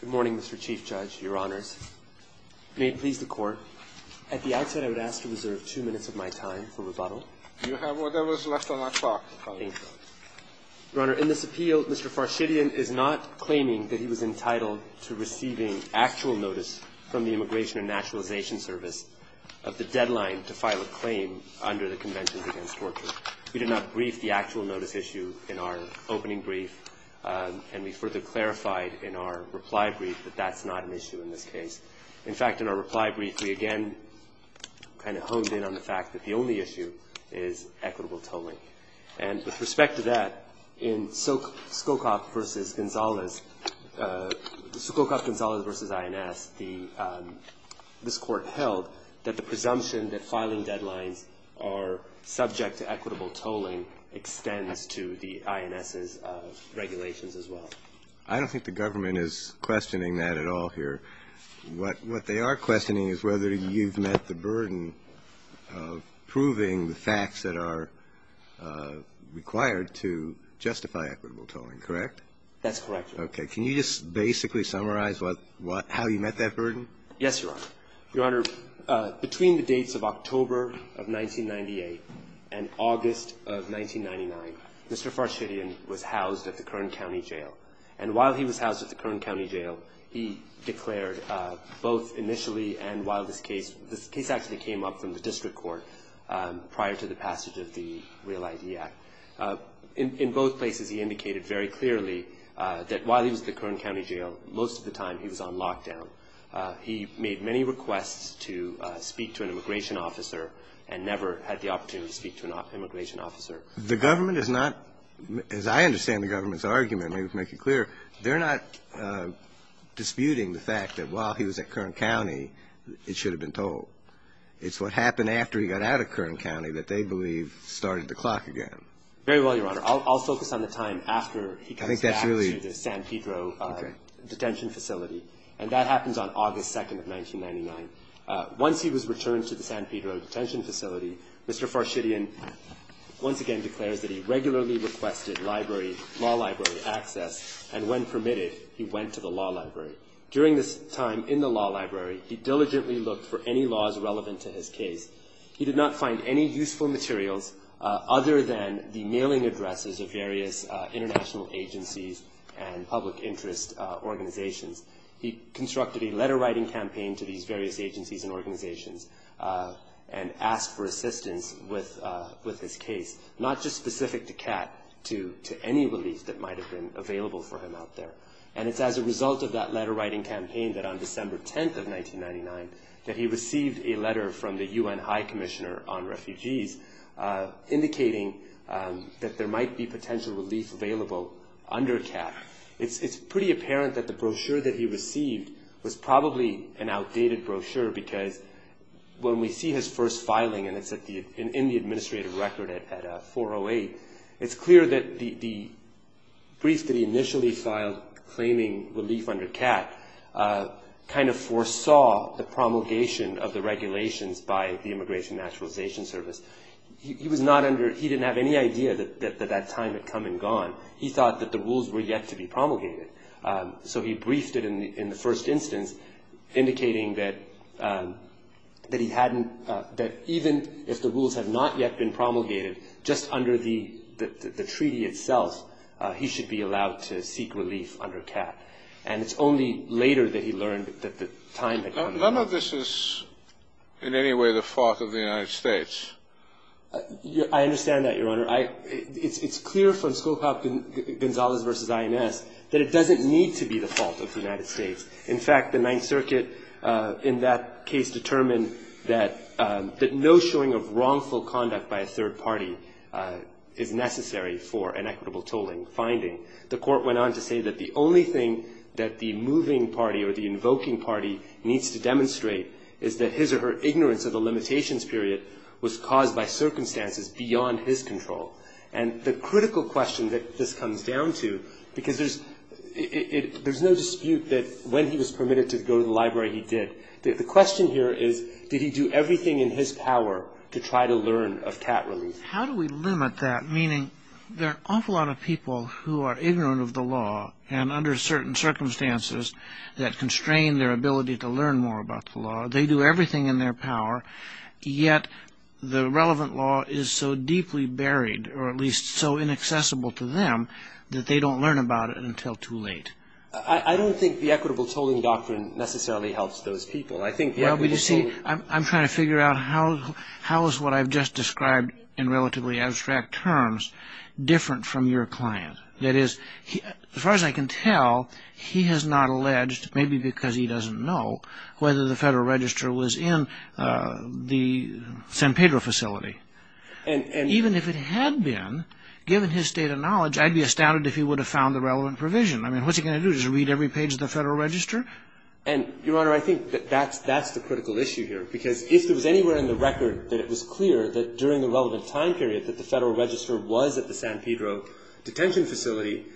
Good morning, Mr. Chief Judge, Your Honors. May it please the Court, at the outset I would ask to reserve two minutes of my time for rebuttal. You have whatever is left on that clock, Your Honor. Your Honor, in this appeal, Mr. Farshidian is not claiming that he was entitled to receiving actual notice from the Immigration and Naturalization Service of the deadline to file a claim under the Conventions Against Torture. We did not brief the actual notice issue in our opening brief, and we further clarified in our reply brief that that's not an issue in this case. In fact, in our reply brief, we again kind of honed in on the fact that the only issue is equitable tolling. And with respect to that, in Sukhokov v. Gonzalez, Sukhokov-Gonzalez v. INS, this Court held that the presumption that filing deadlines are subject to equitable tolling extends to the INS's regulations as well. I don't think the government is questioning that at all here. What they are questioning is whether you've met the burden of proving the facts that are required to justify equitable tolling, correct? That's correct, Your Honor. Okay. Can you just basically summarize how you met that burden? Yes, Your Honor. Your Honor, between the dates of October of 1998 and August of 1999, Mr. Farshidian was housed at the Kern County Jail. And while he was housed at the Kern County Jail, he declared both initially and while this case – this case actually came up from the district court prior to the passage of the Real ID Act. In both places, he indicated very clearly that while he was at the Kern County Jail, most of the time he was on lockdown. He made many requests to speak to an immigration officer and never had the opportunity to speak to an immigration officer. The government is not – as I understand the government's argument, to make it clear, they're not disputing the fact that while he was at Kern County, it should have been tolled. It's what happened after he got out of Kern County that they believe started the clock again. Very well, Your Honor. I'll focus on the time after he comes back to the San Pedro detention facility. Okay. And that happens on August 2nd of 1999. Once he was returned to the San Pedro detention facility, Mr. Farshidian once again declares that he regularly requested library – law library access, and when permitted, he went to the law library. During this time in the law library, he diligently looked for any laws relevant to his case. He did not find any useful materials other than the mailing addresses of various international agencies and public interest organizations. He constructed a letter-writing campaign to these various agencies and organizations and asked for assistance with his case, not just specific to CAT, to any relief that might have been available for him out there. And it's as a result of that letter-writing campaign that on December 10th of 1999, that he received a letter from the UN High Commissioner on Refugees indicating that there might be potential relief available under CAT. It's pretty apparent that the brochure that he received was probably an outdated brochure because when we see his first filing, and it's in the administrative record at 408, it's clear that the brief that he initially filed claiming relief under CAT kind of foresaw the promulgation of the regulations by the Immigration and Naturalization Service. He was not under – he didn't have any idea that that time had come and gone. He thought that the rules were yet to be promulgated. So he briefed it in the first instance, indicating that he hadn't – that even if the rules had not yet been promulgated, just under the treaty itself, he should be allowed to seek relief under CAT. And it's only later that he learned that the time had come. None of this is in any way the fault of the United States. I understand that, Your Honor. It's clear from Scowcroft-Gonzalez v. INS that it doesn't need to be the fault of the United States. In fact, the Ninth Circuit in that case determined that no showing of wrongful conduct by a third party is necessary for an equitable tolling finding. The Court went on to say that the only thing that the moving party or the invoking party needs to demonstrate is that his or her ignorance of the limitations period was caused by circumstances beyond his control. And the critical question that this comes down to – because there's no dispute that when he was permitted to go to the library, he did. The question here is, did he do everything in his power to try to learn of CAT relief? How do we limit that? Meaning there are an awful lot of people who are ignorant of the law and under certain circumstances that constrain their ability to learn more about the law. They do everything in their power, yet the relevant law is so deeply buried, or at least so inaccessible to them, that they don't learn about it until too late. I don't think the equitable tolling doctrine necessarily helps those people. I'm trying to figure out how is what I've just described in relatively abstract terms different from your client. That is, as far as I can tell, he has not alleged, maybe because he doesn't know, whether the Federal Register was in the San Pedro facility. Even if it had been, given his state of knowledge, I'd be astounded if he would have found the relevant provision. I mean, what's he going to do, just read every page of the Federal Register? And, Your Honor, I think that that's the critical issue here. Because if there was anywhere in the record that it was clear that during the relevant time period that the Federal Register was at the San Pedro detention facility,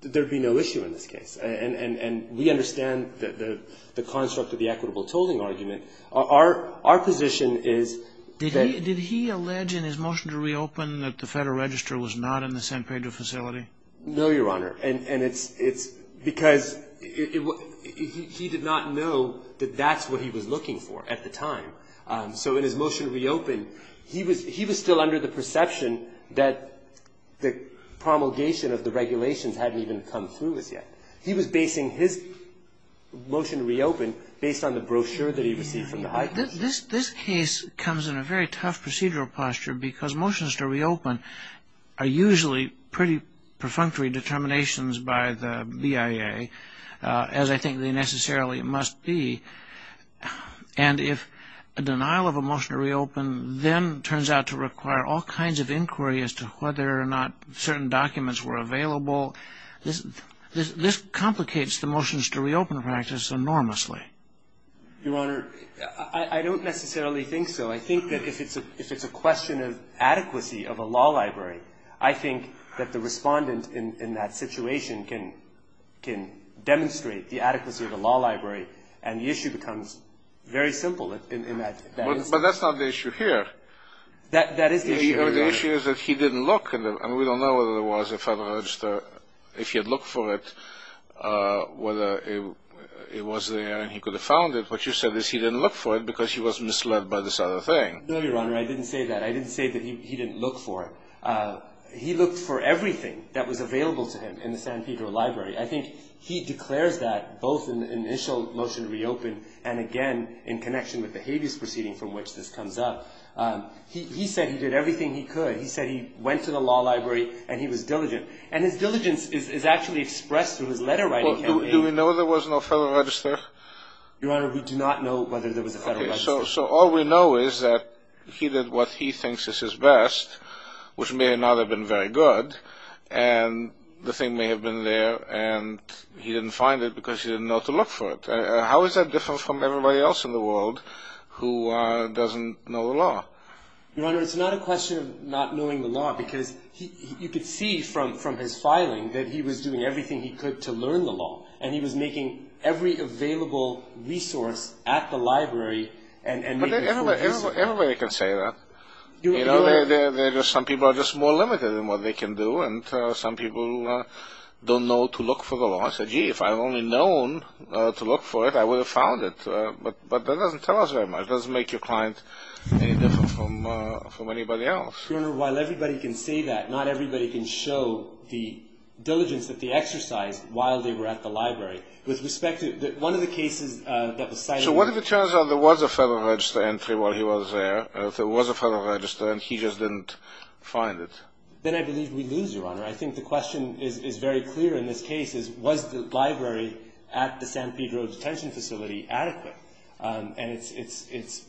there would be no issue in this case. And we understand the construct of the equitable tolling argument. Our position is that the Federal Register was not in the San Pedro facility. No, Your Honor. And it's because he did not know that that's what he was looking for at the time. So in his motion to reopen, he was still under the perception that the promulgation of the regulations hadn't even come through as yet. He was basing his motion to reopen based on the brochure that he received from the high court. This case comes in a very tough procedural posture, because motions to reopen are usually pretty perfunctory determinations by the BIA, as I think they necessarily must be. And if a denial of a motion to reopen then turns out to require all kinds of inquiry as to whether or not certain documents were available, this complicates the motions to reopen practice enormously. Your Honor, I don't necessarily think so. I think that if it's a question of adequacy of a law library, I think that the respondent in that situation can demonstrate the adequacy of a law library, and the issue becomes very simple in that instance. But that's not the issue here. That is the issue, Your Honor. The issue is that he didn't look, and we don't know whether there was a Federal Register, if he had looked for it, whether it was there and he could have found it. What you said is he didn't look for it because he was misled by this other thing. No, Your Honor. I didn't say that. I didn't say that he didn't look for it. He looked for everything that was available to him in the San Pedro Library. I think he declares that both in the initial motion to reopen and, again, in connection with the habeas proceeding from which this comes up. He said he did everything he could. He said he went to the law library and he was diligent. And his diligence is actually expressed through his letter writing. Do we know there was no Federal Register? Your Honor, we do not know whether there was a Federal Register. Okay, so all we know is that he did what he thinks is his best, which may or may not have been very good, and the thing may have been there and he didn't find it because he didn't know to look for it. How is that different from everybody else in the world who doesn't know the law? Your Honor, it's not a question of not knowing the law because you could see from his filing that he was doing everything he could to learn the law, and he was making every available resource at the library and making full use of it. Everybody can say that. Some people are just more limited in what they can do, and some people don't know to look for the law. I said, gee, if I had only known to look for it, I would have found it. But that doesn't tell us very much. It doesn't make your client any different from anybody else. Your Honor, while everybody can say that, not everybody can show the diligence that they exercised while they were at the library. With respect to one of the cases that was cited... So what if it turns out there was a Federal Register entry while he was there, there was a Federal Register, and he just didn't find it? Then I believe we lose, Your Honor. I think the question is very clear in this case is, was the library at the San Pedro detention facility adequate? And it's...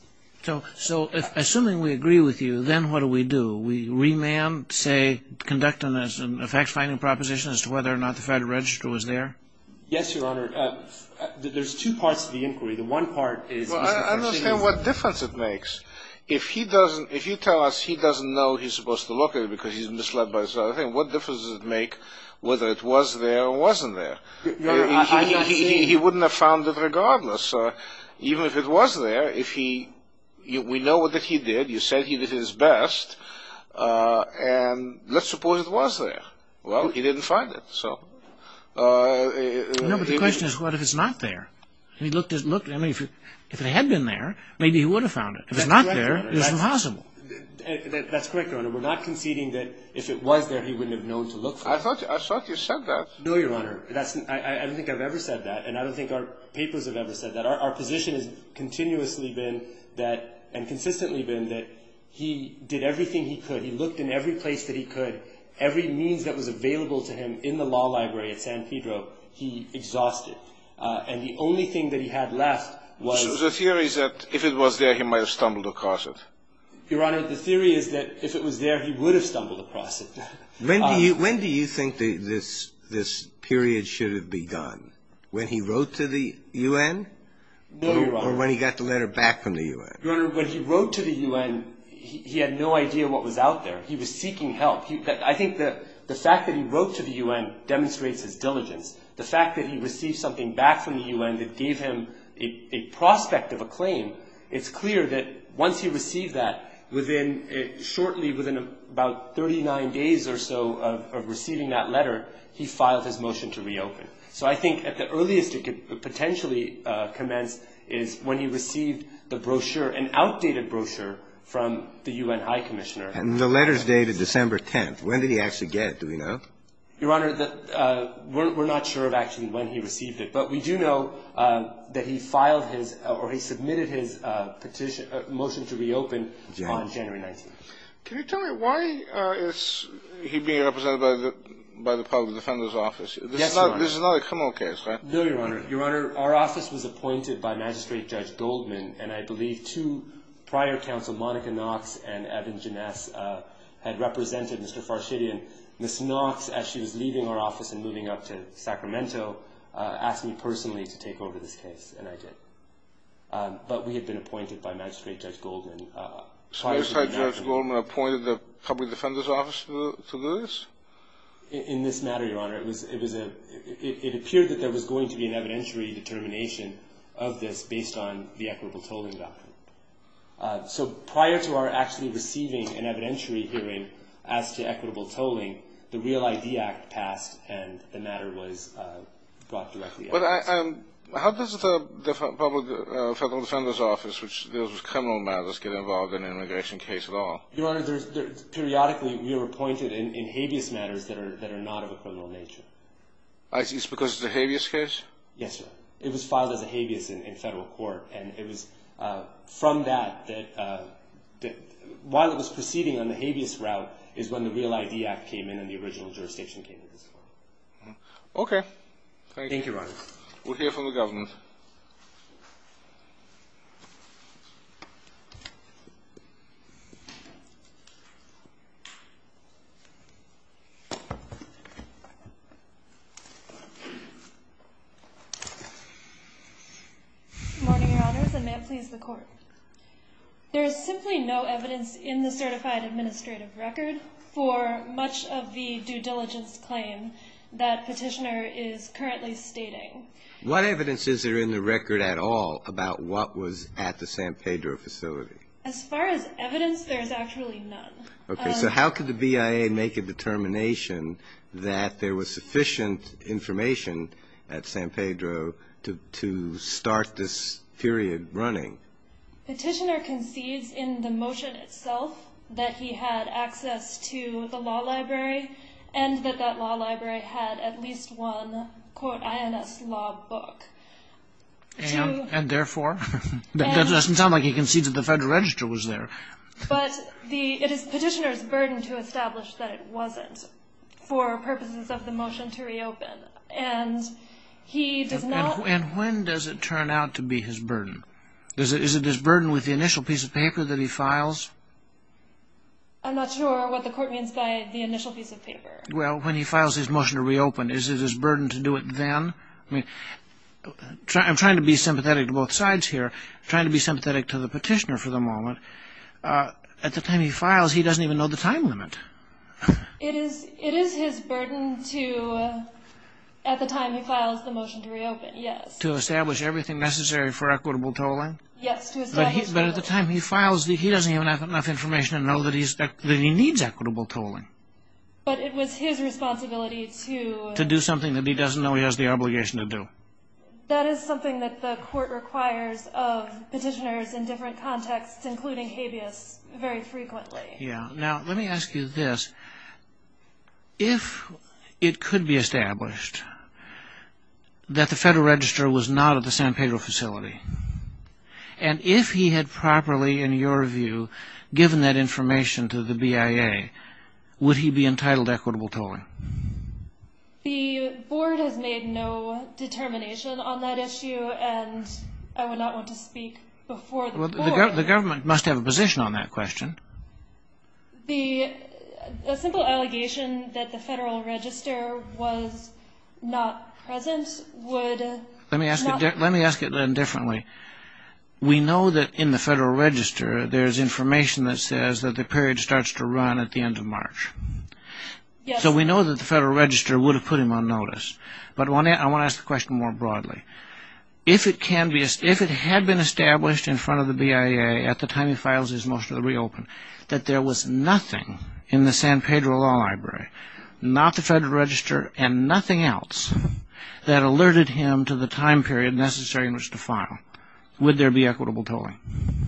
So assuming we agree with you, then what do we do? We remand, say, conduct a fact-finding proposition as to whether or not the Federal Register was there? Yes, Your Honor. There's two parts to the inquiry. The one part is... I understand what difference it makes. If you tell us he doesn't know he's supposed to look at it because he's misled by this other thing, what difference does it make whether it was there or wasn't there? Your Honor, I'm not saying... He wouldn't have found it regardless. Even if it was there, if he... We know that he did. You said he did his best. And let's suppose it was there. Well, he didn't find it, so... No, but the question is what if it's not there? If it had been there, maybe he would have found it. If it's not there, it's impossible. That's correct, Your Honor. We're not conceding that if it was there, he wouldn't have known to look for it. I thought you said that. No, Your Honor. I don't think I've ever said that, and I don't think our papers have ever said that. Our position has continuously been that and consistently been that he did everything he could. He looked in every place that he could. Every means that was available to him in the law library at San Pedro, he exhausted. And the only thing that he had left was... So the theory is that if it was there, he might have stumbled across it. Your Honor, the theory is that if it was there, he would have stumbled across it. When do you think this period should have begun? When he wrote to the U.N.? No, Your Honor. Or when he got the letter back from the U.N.? Your Honor, when he wrote to the U.N., he had no idea what was out there. He was seeking help. I think the fact that he wrote to the U.N. demonstrates his diligence. The fact that he received something back from the U.N. that gave him a prospect of a claim, it's clear that once he received that, shortly within about 39 days or so of receiving that letter, he filed his motion to reopen. So I think at the earliest it could potentially commence is when he received the brochure, an outdated brochure from the U.N. High Commissioner. And the letter's dated December 10th. When did he actually get? Do we know? Your Honor, we're not sure of actually when he received it. But we do know that he filed his or he submitted his petition or motion to reopen on January 19th. Yes, Your Honor. This is not a criminal case, right? No, Your Honor. Your Honor, our office was appointed by Magistrate Judge Goldman, and I believe two prior counsel, Monica Knox and Evan Ginesse, had represented Mr. Farshidian. Ms. Knox, as she was leaving our office and moving up to Sacramento, asked me personally to take over this case, and I did. But we had been appointed by Magistrate Judge Goldman prior to the matter. So Magistrate Judge Goldman appointed the Public Defender's Office to do this? In this matter, Your Honor, it appeared that there was going to be an evidentiary determination of this based on the equitable tolling doctrine. So prior to our actually receiving an evidentiary hearing as to equitable tolling, the Real ID Act passed and the matter was brought directly at us. But how does the Federal Defender's Office, which deals with criminal matters, get involved in an immigration case at all? Your Honor, periodically we are appointed in habeas matters that are not of a criminal nature. It's because it's a habeas case? Yes, Your Honor. It was filed as a habeas in federal court, and it was from that that while it was proceeding on the habeas route is when the Real ID Act came in and the original jurisdiction came into this court. Okay. Thank you, Your Honor. We'll hear from the government. Good morning, Your Honors, and may it please the Court. There is simply no evidence in the certified administrative record for much of the due diligence claim that Petitioner is currently stating. What evidence is there in the record at all about what was at the San Pedro facility? As far as evidence, there is actually none. Okay. So how could the BIA make a determination that there was sufficient information at San Pedro to start this period running? Petitioner concedes in the motion itself that he had access to the law library and that that law library had at least one, quote, INS law book. And therefore? That doesn't sound like he concedes that the Federal Register was there. But it is Petitioner's burden to establish that it wasn't for purposes of the motion to reopen. And when does it turn out to be his burden? Is it his burden with the initial piece of paper that he files? I'm not sure what the Court means by the initial piece of paper. Well, when he files his motion to reopen, is it his burden to do it then? I'm trying to be sympathetic to both sides here. I'm trying to be sympathetic to the Petitioner for the moment. At the time he files, he doesn't even know the time limit. It is his burden to, at the time he files the motion to reopen, yes. To establish everything necessary for equitable tolling? Yes. But at the time he files, he doesn't even have enough information to know that he needs equitable tolling. But it was his responsibility to To do something that he doesn't know he has the obligation to do. That is something that the Court requires of Petitioners in different contexts, including habeas, very frequently. Yeah. Now, let me ask you this. If it could be established that the Federal Register was not at the San Pedro facility, and if he had properly, in your view, given that information to the BIA, would he be entitled to equitable tolling? The Board has made no determination on that issue, and I would not want to speak before the Board. The government must have a position on that question. A simple allegation that the Federal Register was not present would not We know that in the Federal Register, there is information that says that the period starts to run at the end of March. So we know that the Federal Register would have put him on notice. But I want to ask the question more broadly. If it had been established in front of the BIA at the time he files his motion to reopen, that there was nothing in the San Pedro Law Library, not the Federal Register, and nothing else that alerted him to the time period necessary in which to file, would there be equitable tolling?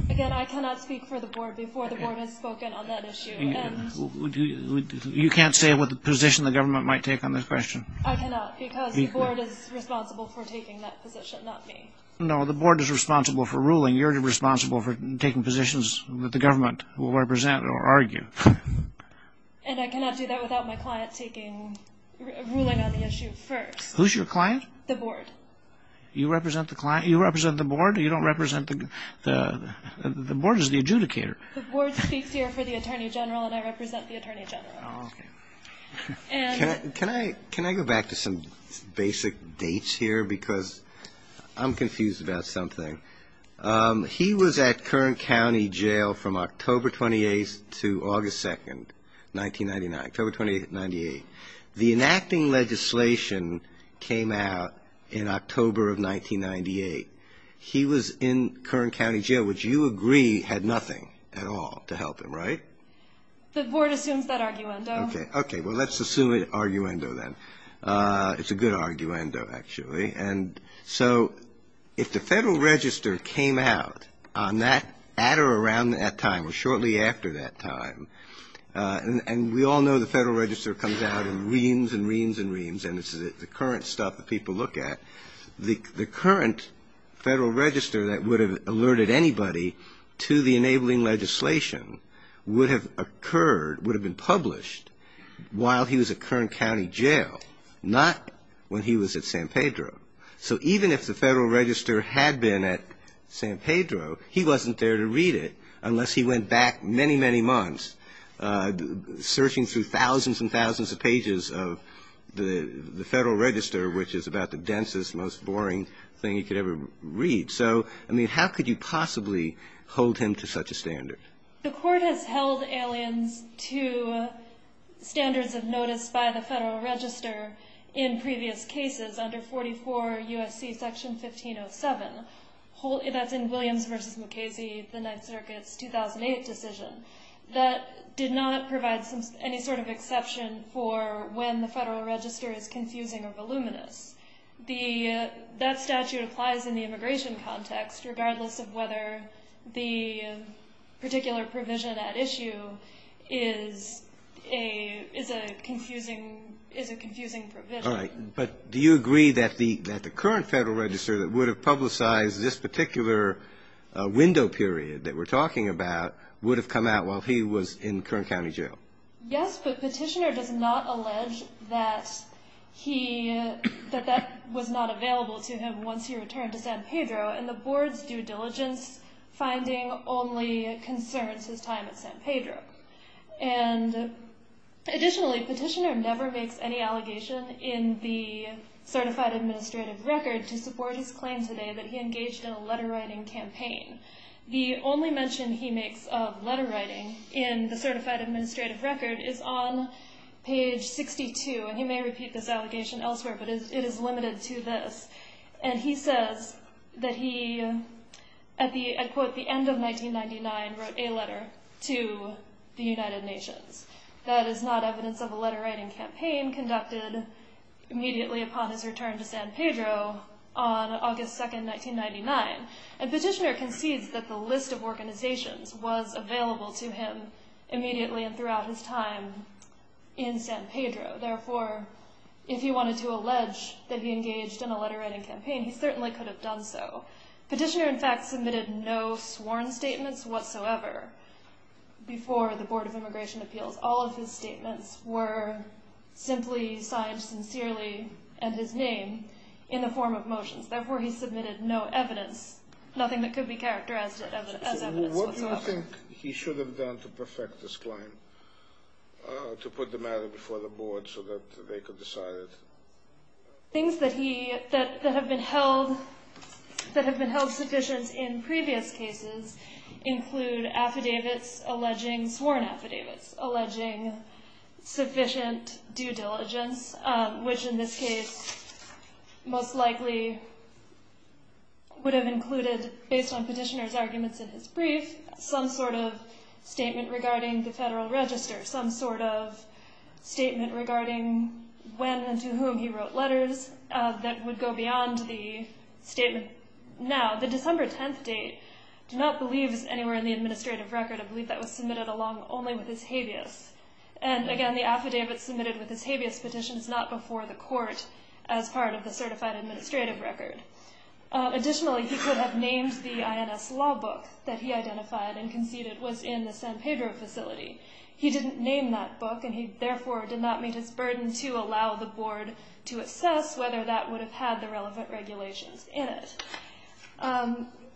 Again, I cannot speak for the Board before the Board has spoken on that issue. You can't say what position the government might take on this question? I cannot, because the Board is responsible for taking that position, not me. No, the Board is responsible for ruling. You're responsible for taking positions that the government will represent or argue. And I cannot do that without my client ruling on the issue first. Who's your client? The Board. You represent the Board? You don't represent the Board? The Board is the adjudicator. The Board speaks here for the Attorney General, and I represent the Attorney General. Can I go back to some basic dates here? Because I'm confused about something. He was at Kern County Jail from October 28th to August 2nd, 1999, October 28th, 1998. The enacting legislation came out in October of 1998. He was in Kern County Jail, which you agree had nothing at all to help him, right? The Board assumes that arguendo. Okay. Well, let's assume an arguendo then. It's a good arguendo, actually. And so if the Federal Register came out on that, at or around that time, or shortly after that time, and we all know the Federal Register comes out in reams and reams and reams, and it's the current stuff that people look at, the current Federal Register that would have alerted anybody to the enabling legislation would have occurred, would have been published while he was at Kern County Jail, not when he was at San Pedro. So even if the Federal Register had been at San Pedro, he wasn't there to read it unless he went back many, many months, searching through thousands and thousands of pages of the Federal Register, which is about the densest, most boring thing you could ever read. So, I mean, how could you possibly hold him to such a standard? The Court has held aliens to standards of notice by the Federal Register in previous cases under 44 U.S.C. Section 1507. That's in Williams v. Mukasey, the Ninth Circuit's 2008 decision. That did not provide any sort of exception for when the Federal Register is confusing or voluminous. That statute applies in the immigration context, regardless of whether the particular provision at issue is a confusing provision. All right, but do you agree that the current Federal Register that would have publicized this particular window period that we're talking about would have come out while he was in Kern County Jail? Yes, but Petitioner does not allege that that was not available to him once he returned to San Pedro, and the Board's due diligence finding only concerns his time at San Pedro. Additionally, Petitioner never makes any allegation in the Certified Administrative Record to support his claim today that he engaged in a letter-writing campaign. The only mention he makes of letter-writing in the Certified Administrative Record is on page 62, and he may repeat this allegation elsewhere, but it is limited to this. And he says that he, at the, I quote, the end of 1999, wrote a letter to the United Nations. That is not evidence of a letter-writing campaign conducted immediately upon his return to San Pedro on August 2, 1999. And Petitioner concedes that the list of organizations was available to him immediately and throughout his time in San Pedro. Therefore, if he wanted to allege that he engaged in a letter-writing campaign, he certainly could have done so. Petitioner, in fact, submitted no sworn statements whatsoever before the Board of Immigration Appeals. All of his statements were simply signed sincerely, and his name, in the form of motions. Therefore, he submitted no evidence, nothing that could be characterized as evidence whatsoever. What do you think he should have done to perfect this claim, to put the matter before the Board so that they could decide it? Things that have been held sufficient in previous cases include affidavits alleging, sworn affidavits, alleging sufficient due diligence, which in this case most likely would have included, based on Petitioner's arguments in his brief, some sort of statement regarding the Federal Register, some sort of statement regarding when and to whom he wrote letters that would go beyond the statement now. The December 10th date, I do not believe is anywhere in the administrative record. I believe that was submitted along only with his habeas. And again, the affidavit submitted with his habeas petition is not before the court as part of the certified administrative record. Additionally, he could have named the INS law book that he identified and conceded was in the San Pedro facility. He didn't name that book, and he, therefore, did not meet his burden to allow the Board to assess whether that would have had the relevant regulations in it.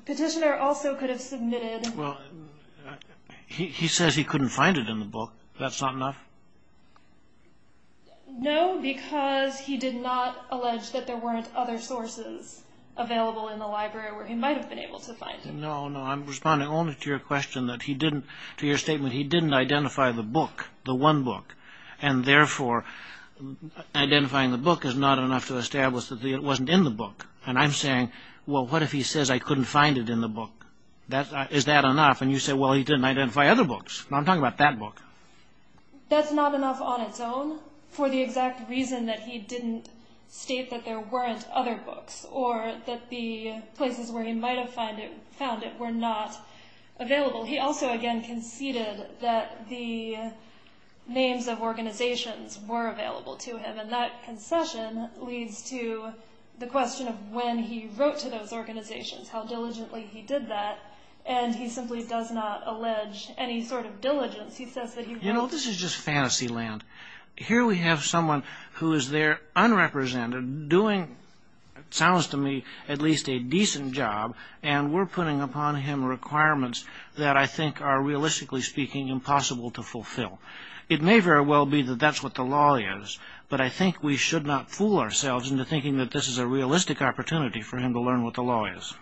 Petitioner also could have submitted... Well, he says he couldn't find it in the book. That's not enough? No, because he did not allege that there weren't other sources available in the library where he might have been able to find it. No, no, I'm responding only to your question that he didn't... To your statement, he didn't identify the book, the one book. And therefore, identifying the book is not enough to establish that it wasn't in the book. And I'm saying, well, what if he says I couldn't find it in the book? Is that enough? And you say, well, he didn't identify other books. I'm talking about that book. That's not enough on its own for the exact reason that he didn't state that there weren't other books or that the places where he might have found it were not available. He also, again, conceded that the names of organizations were available to him. And that concession leads to the question of when he wrote to those organizations, how diligently he did that. And he simply does not allege any sort of diligence. He says that he... You know, this is just fantasy land. Here we have someone who is there unrepresented doing, it sounds to me, at least a decent job. And we're putting upon him requirements that I think are, realistically speaking, impossible to fulfill. It may very well be that that's what the law is. But I think we should not fool ourselves into thinking that this is a realistic opportunity for him to learn what the law is.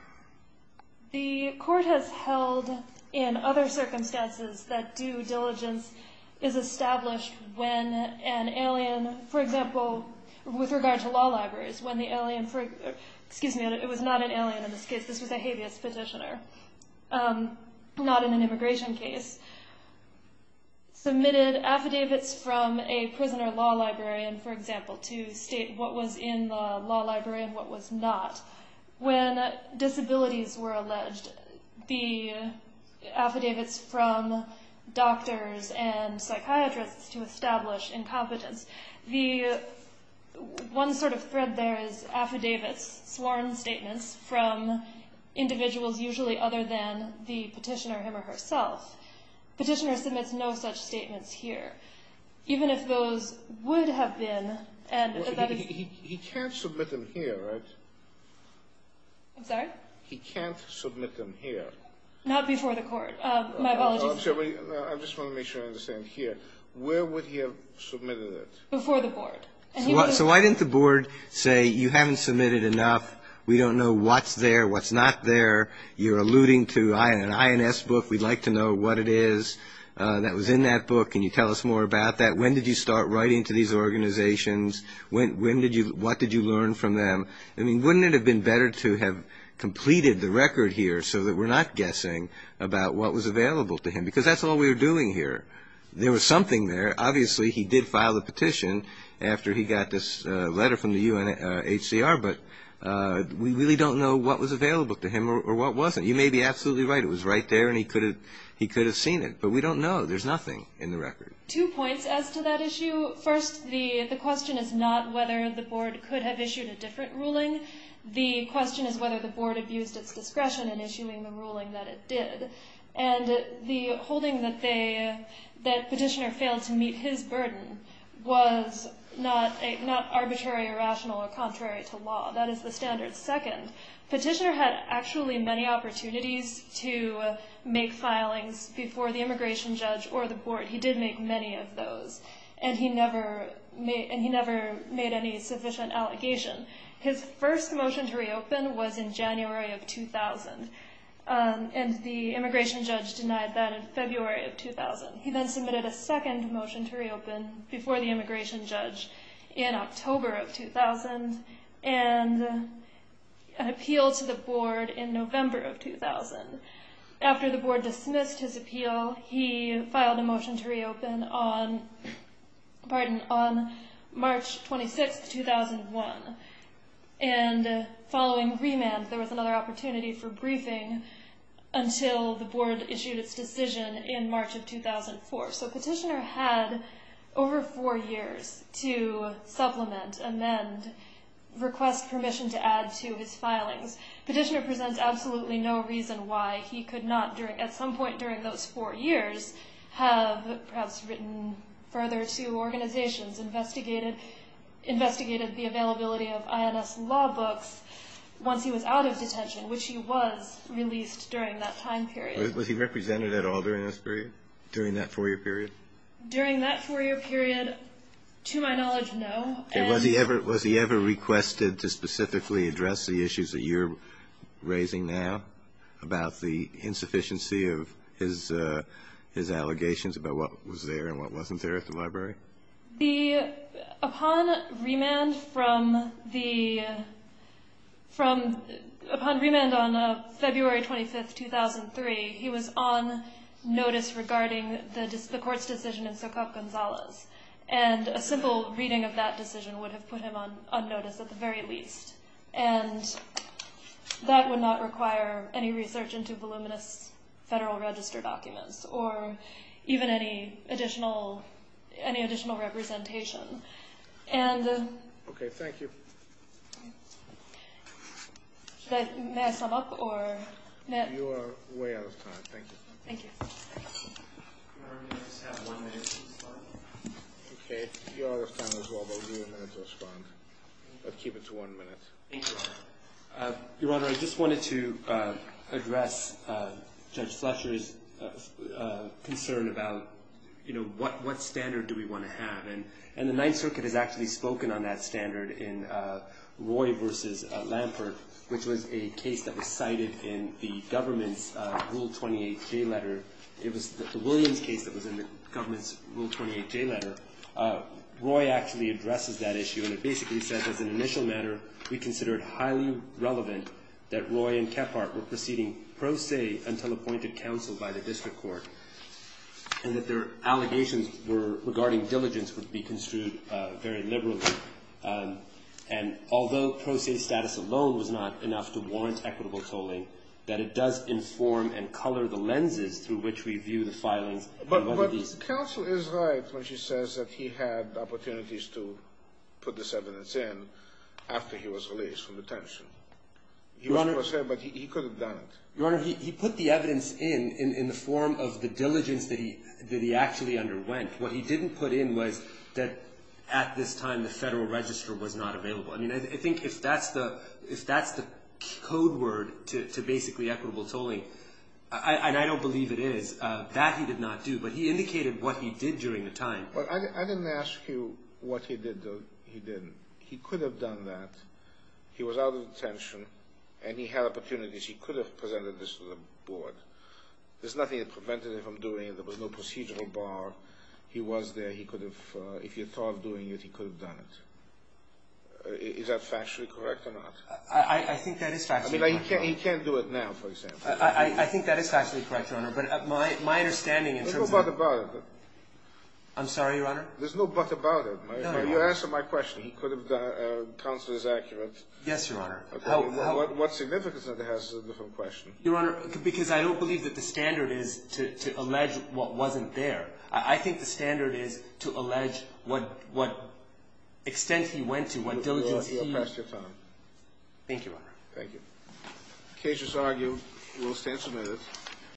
The court has held in other circumstances that due diligence is established when an alien... For example, with regard to law libraries, when the alien... Excuse me, it was not an alien in this case. This was a habeas petitioner. Not in an immigration case. Submitted affidavits from a prisoner law librarian, for example, to state what was in the law library and what was not. When disabilities were alleged, the affidavits from doctors and psychiatrists to establish incompetence. The one sort of thread there is affidavits, sworn statements, from individuals usually other than the petitioner him or herself. Petitioner submits no such statements here. Even if those would have been... He can't submit them here, right? I'm sorry? He can't submit them here. Not before the court. My apologies. I just want to make sure I understand. Here. Where would he have submitted it? Before the board. So why didn't the board say, you haven't submitted enough, we don't know what's there, what's not there. You're alluding to an INS book, we'd like to know what it is that was in that book. Can you tell us more about that? When did you start writing to these organizations? What did you learn from them? I mean, wouldn't it have been better to have completed the record here so that we're not guessing about what was available to him? Because that's all we were doing here. There was something there. Obviously, he did file a petition after he got this letter from the UNHCR, but we really don't know what was available to him or what wasn't. You may be absolutely right. It was right there and he could have seen it. But we don't know. There's nothing in the record. Two points as to that issue. First, the question is not whether the board could have issued a different ruling. The question is whether the board abused its discretion in issuing the ruling that it did. And the holding that Petitioner failed to meet his burden was not arbitrary or rational or contrary to law. That is the standard. Second, Petitioner had actually many opportunities to make filings before the immigration judge or the board. He did make many of those, and he never made any sufficient allegation. His first motion to reopen was in January of 2000, and the immigration judge denied that in February of 2000. He then submitted a second motion to reopen before the immigration judge in October of 2000 and an appeal to the board in November of 2000. After the board dismissed his appeal, he filed a motion to reopen on March 26, 2001. And following remand, there was another opportunity for briefing until the board issued its decision in March of 2004. So Petitioner had over four years to supplement, amend, request permission to add to his filings. Petitioner presents absolutely no reason why he could not, at some point during those four years, have perhaps written further to organizations, investigated the availability of INS law books once he was out of detention, which he was released during that time period. Was he represented at all during this period, during that four-year period? During that four-year period, to my knowledge, no. Was he ever requested to specifically address the issues that you're raising now about the insufficiency of his allegations about what was there and what wasn't there at the library? Upon remand on February 25, 2003, he was on notice regarding the court's decision in Sokoff-Gonzalez. And a simple reading of that decision would have put him on notice at the very least. And that would not require any research into voluminous Federal Register documents or even any additional representation. Okay, thank you. May I sum up? You are way out of time. Thank you. Thank you. Your Honor, may I just have one minute to respond? Okay, you are out of time as well, but we'll give you a minute to respond. But keep it to one minute. Thank you, Your Honor. Your Honor, I just wanted to address Judge Fletcher's concern about, you know, what standard do we want to have? And the Ninth Circuit has actually spoken on that standard in Roy v. Lampert, which was a case that was cited in the government's Rule 28J letter. It was the Williams case that was in the government's Rule 28J letter. Roy actually addresses that issue, and it basically says, as an initial matter we consider it highly relevant that Roy and Kephart were proceeding pro se until appointed counsel by the district court, and that their allegations regarding diligence would be construed very liberally. And although pro se status alone was not enough to warrant equitable tolling, that it does inform and color the lenses through which we view the filings. But counsel is right when she says that he had opportunities to put this evidence in after he was released from detention. He was pro se, but he could have done it. Your Honor, he put the evidence in in the form of the diligence that he actually underwent. What he didn't put in was that at this time the Federal Register was not available. I mean, I think if that's the code word to basically equitable tolling, and I don't believe it is, that he did not do, but he indicated what he did during the time. I didn't ask you what he did, though. He didn't. He could have done that. He was out of detention, and he had opportunities. He could have presented this to the board. There's nothing that prevented him from doing it. There was no procedural bar. He was there. He could have, if he had thought of doing it, he could have done it. Is that factually correct or not? I think that is factually correct, Your Honor. I mean, he can't do it now, for example. I think that is factually correct, Your Honor, but my understanding in terms of There's no but about it. I'm sorry, Your Honor? There's no but about it. No, no, no. You answered my question. He could have done it. Counsel is accurate. Yes, Your Honor. What significance of that has is a different question. Your Honor, because I don't believe that the standard is to allege what wasn't there. I think the standard is to allege what extent he went to, what diligence he You have passed your time. Thank you, Your Honor. Thank you. The case is argued. We will stand submitted.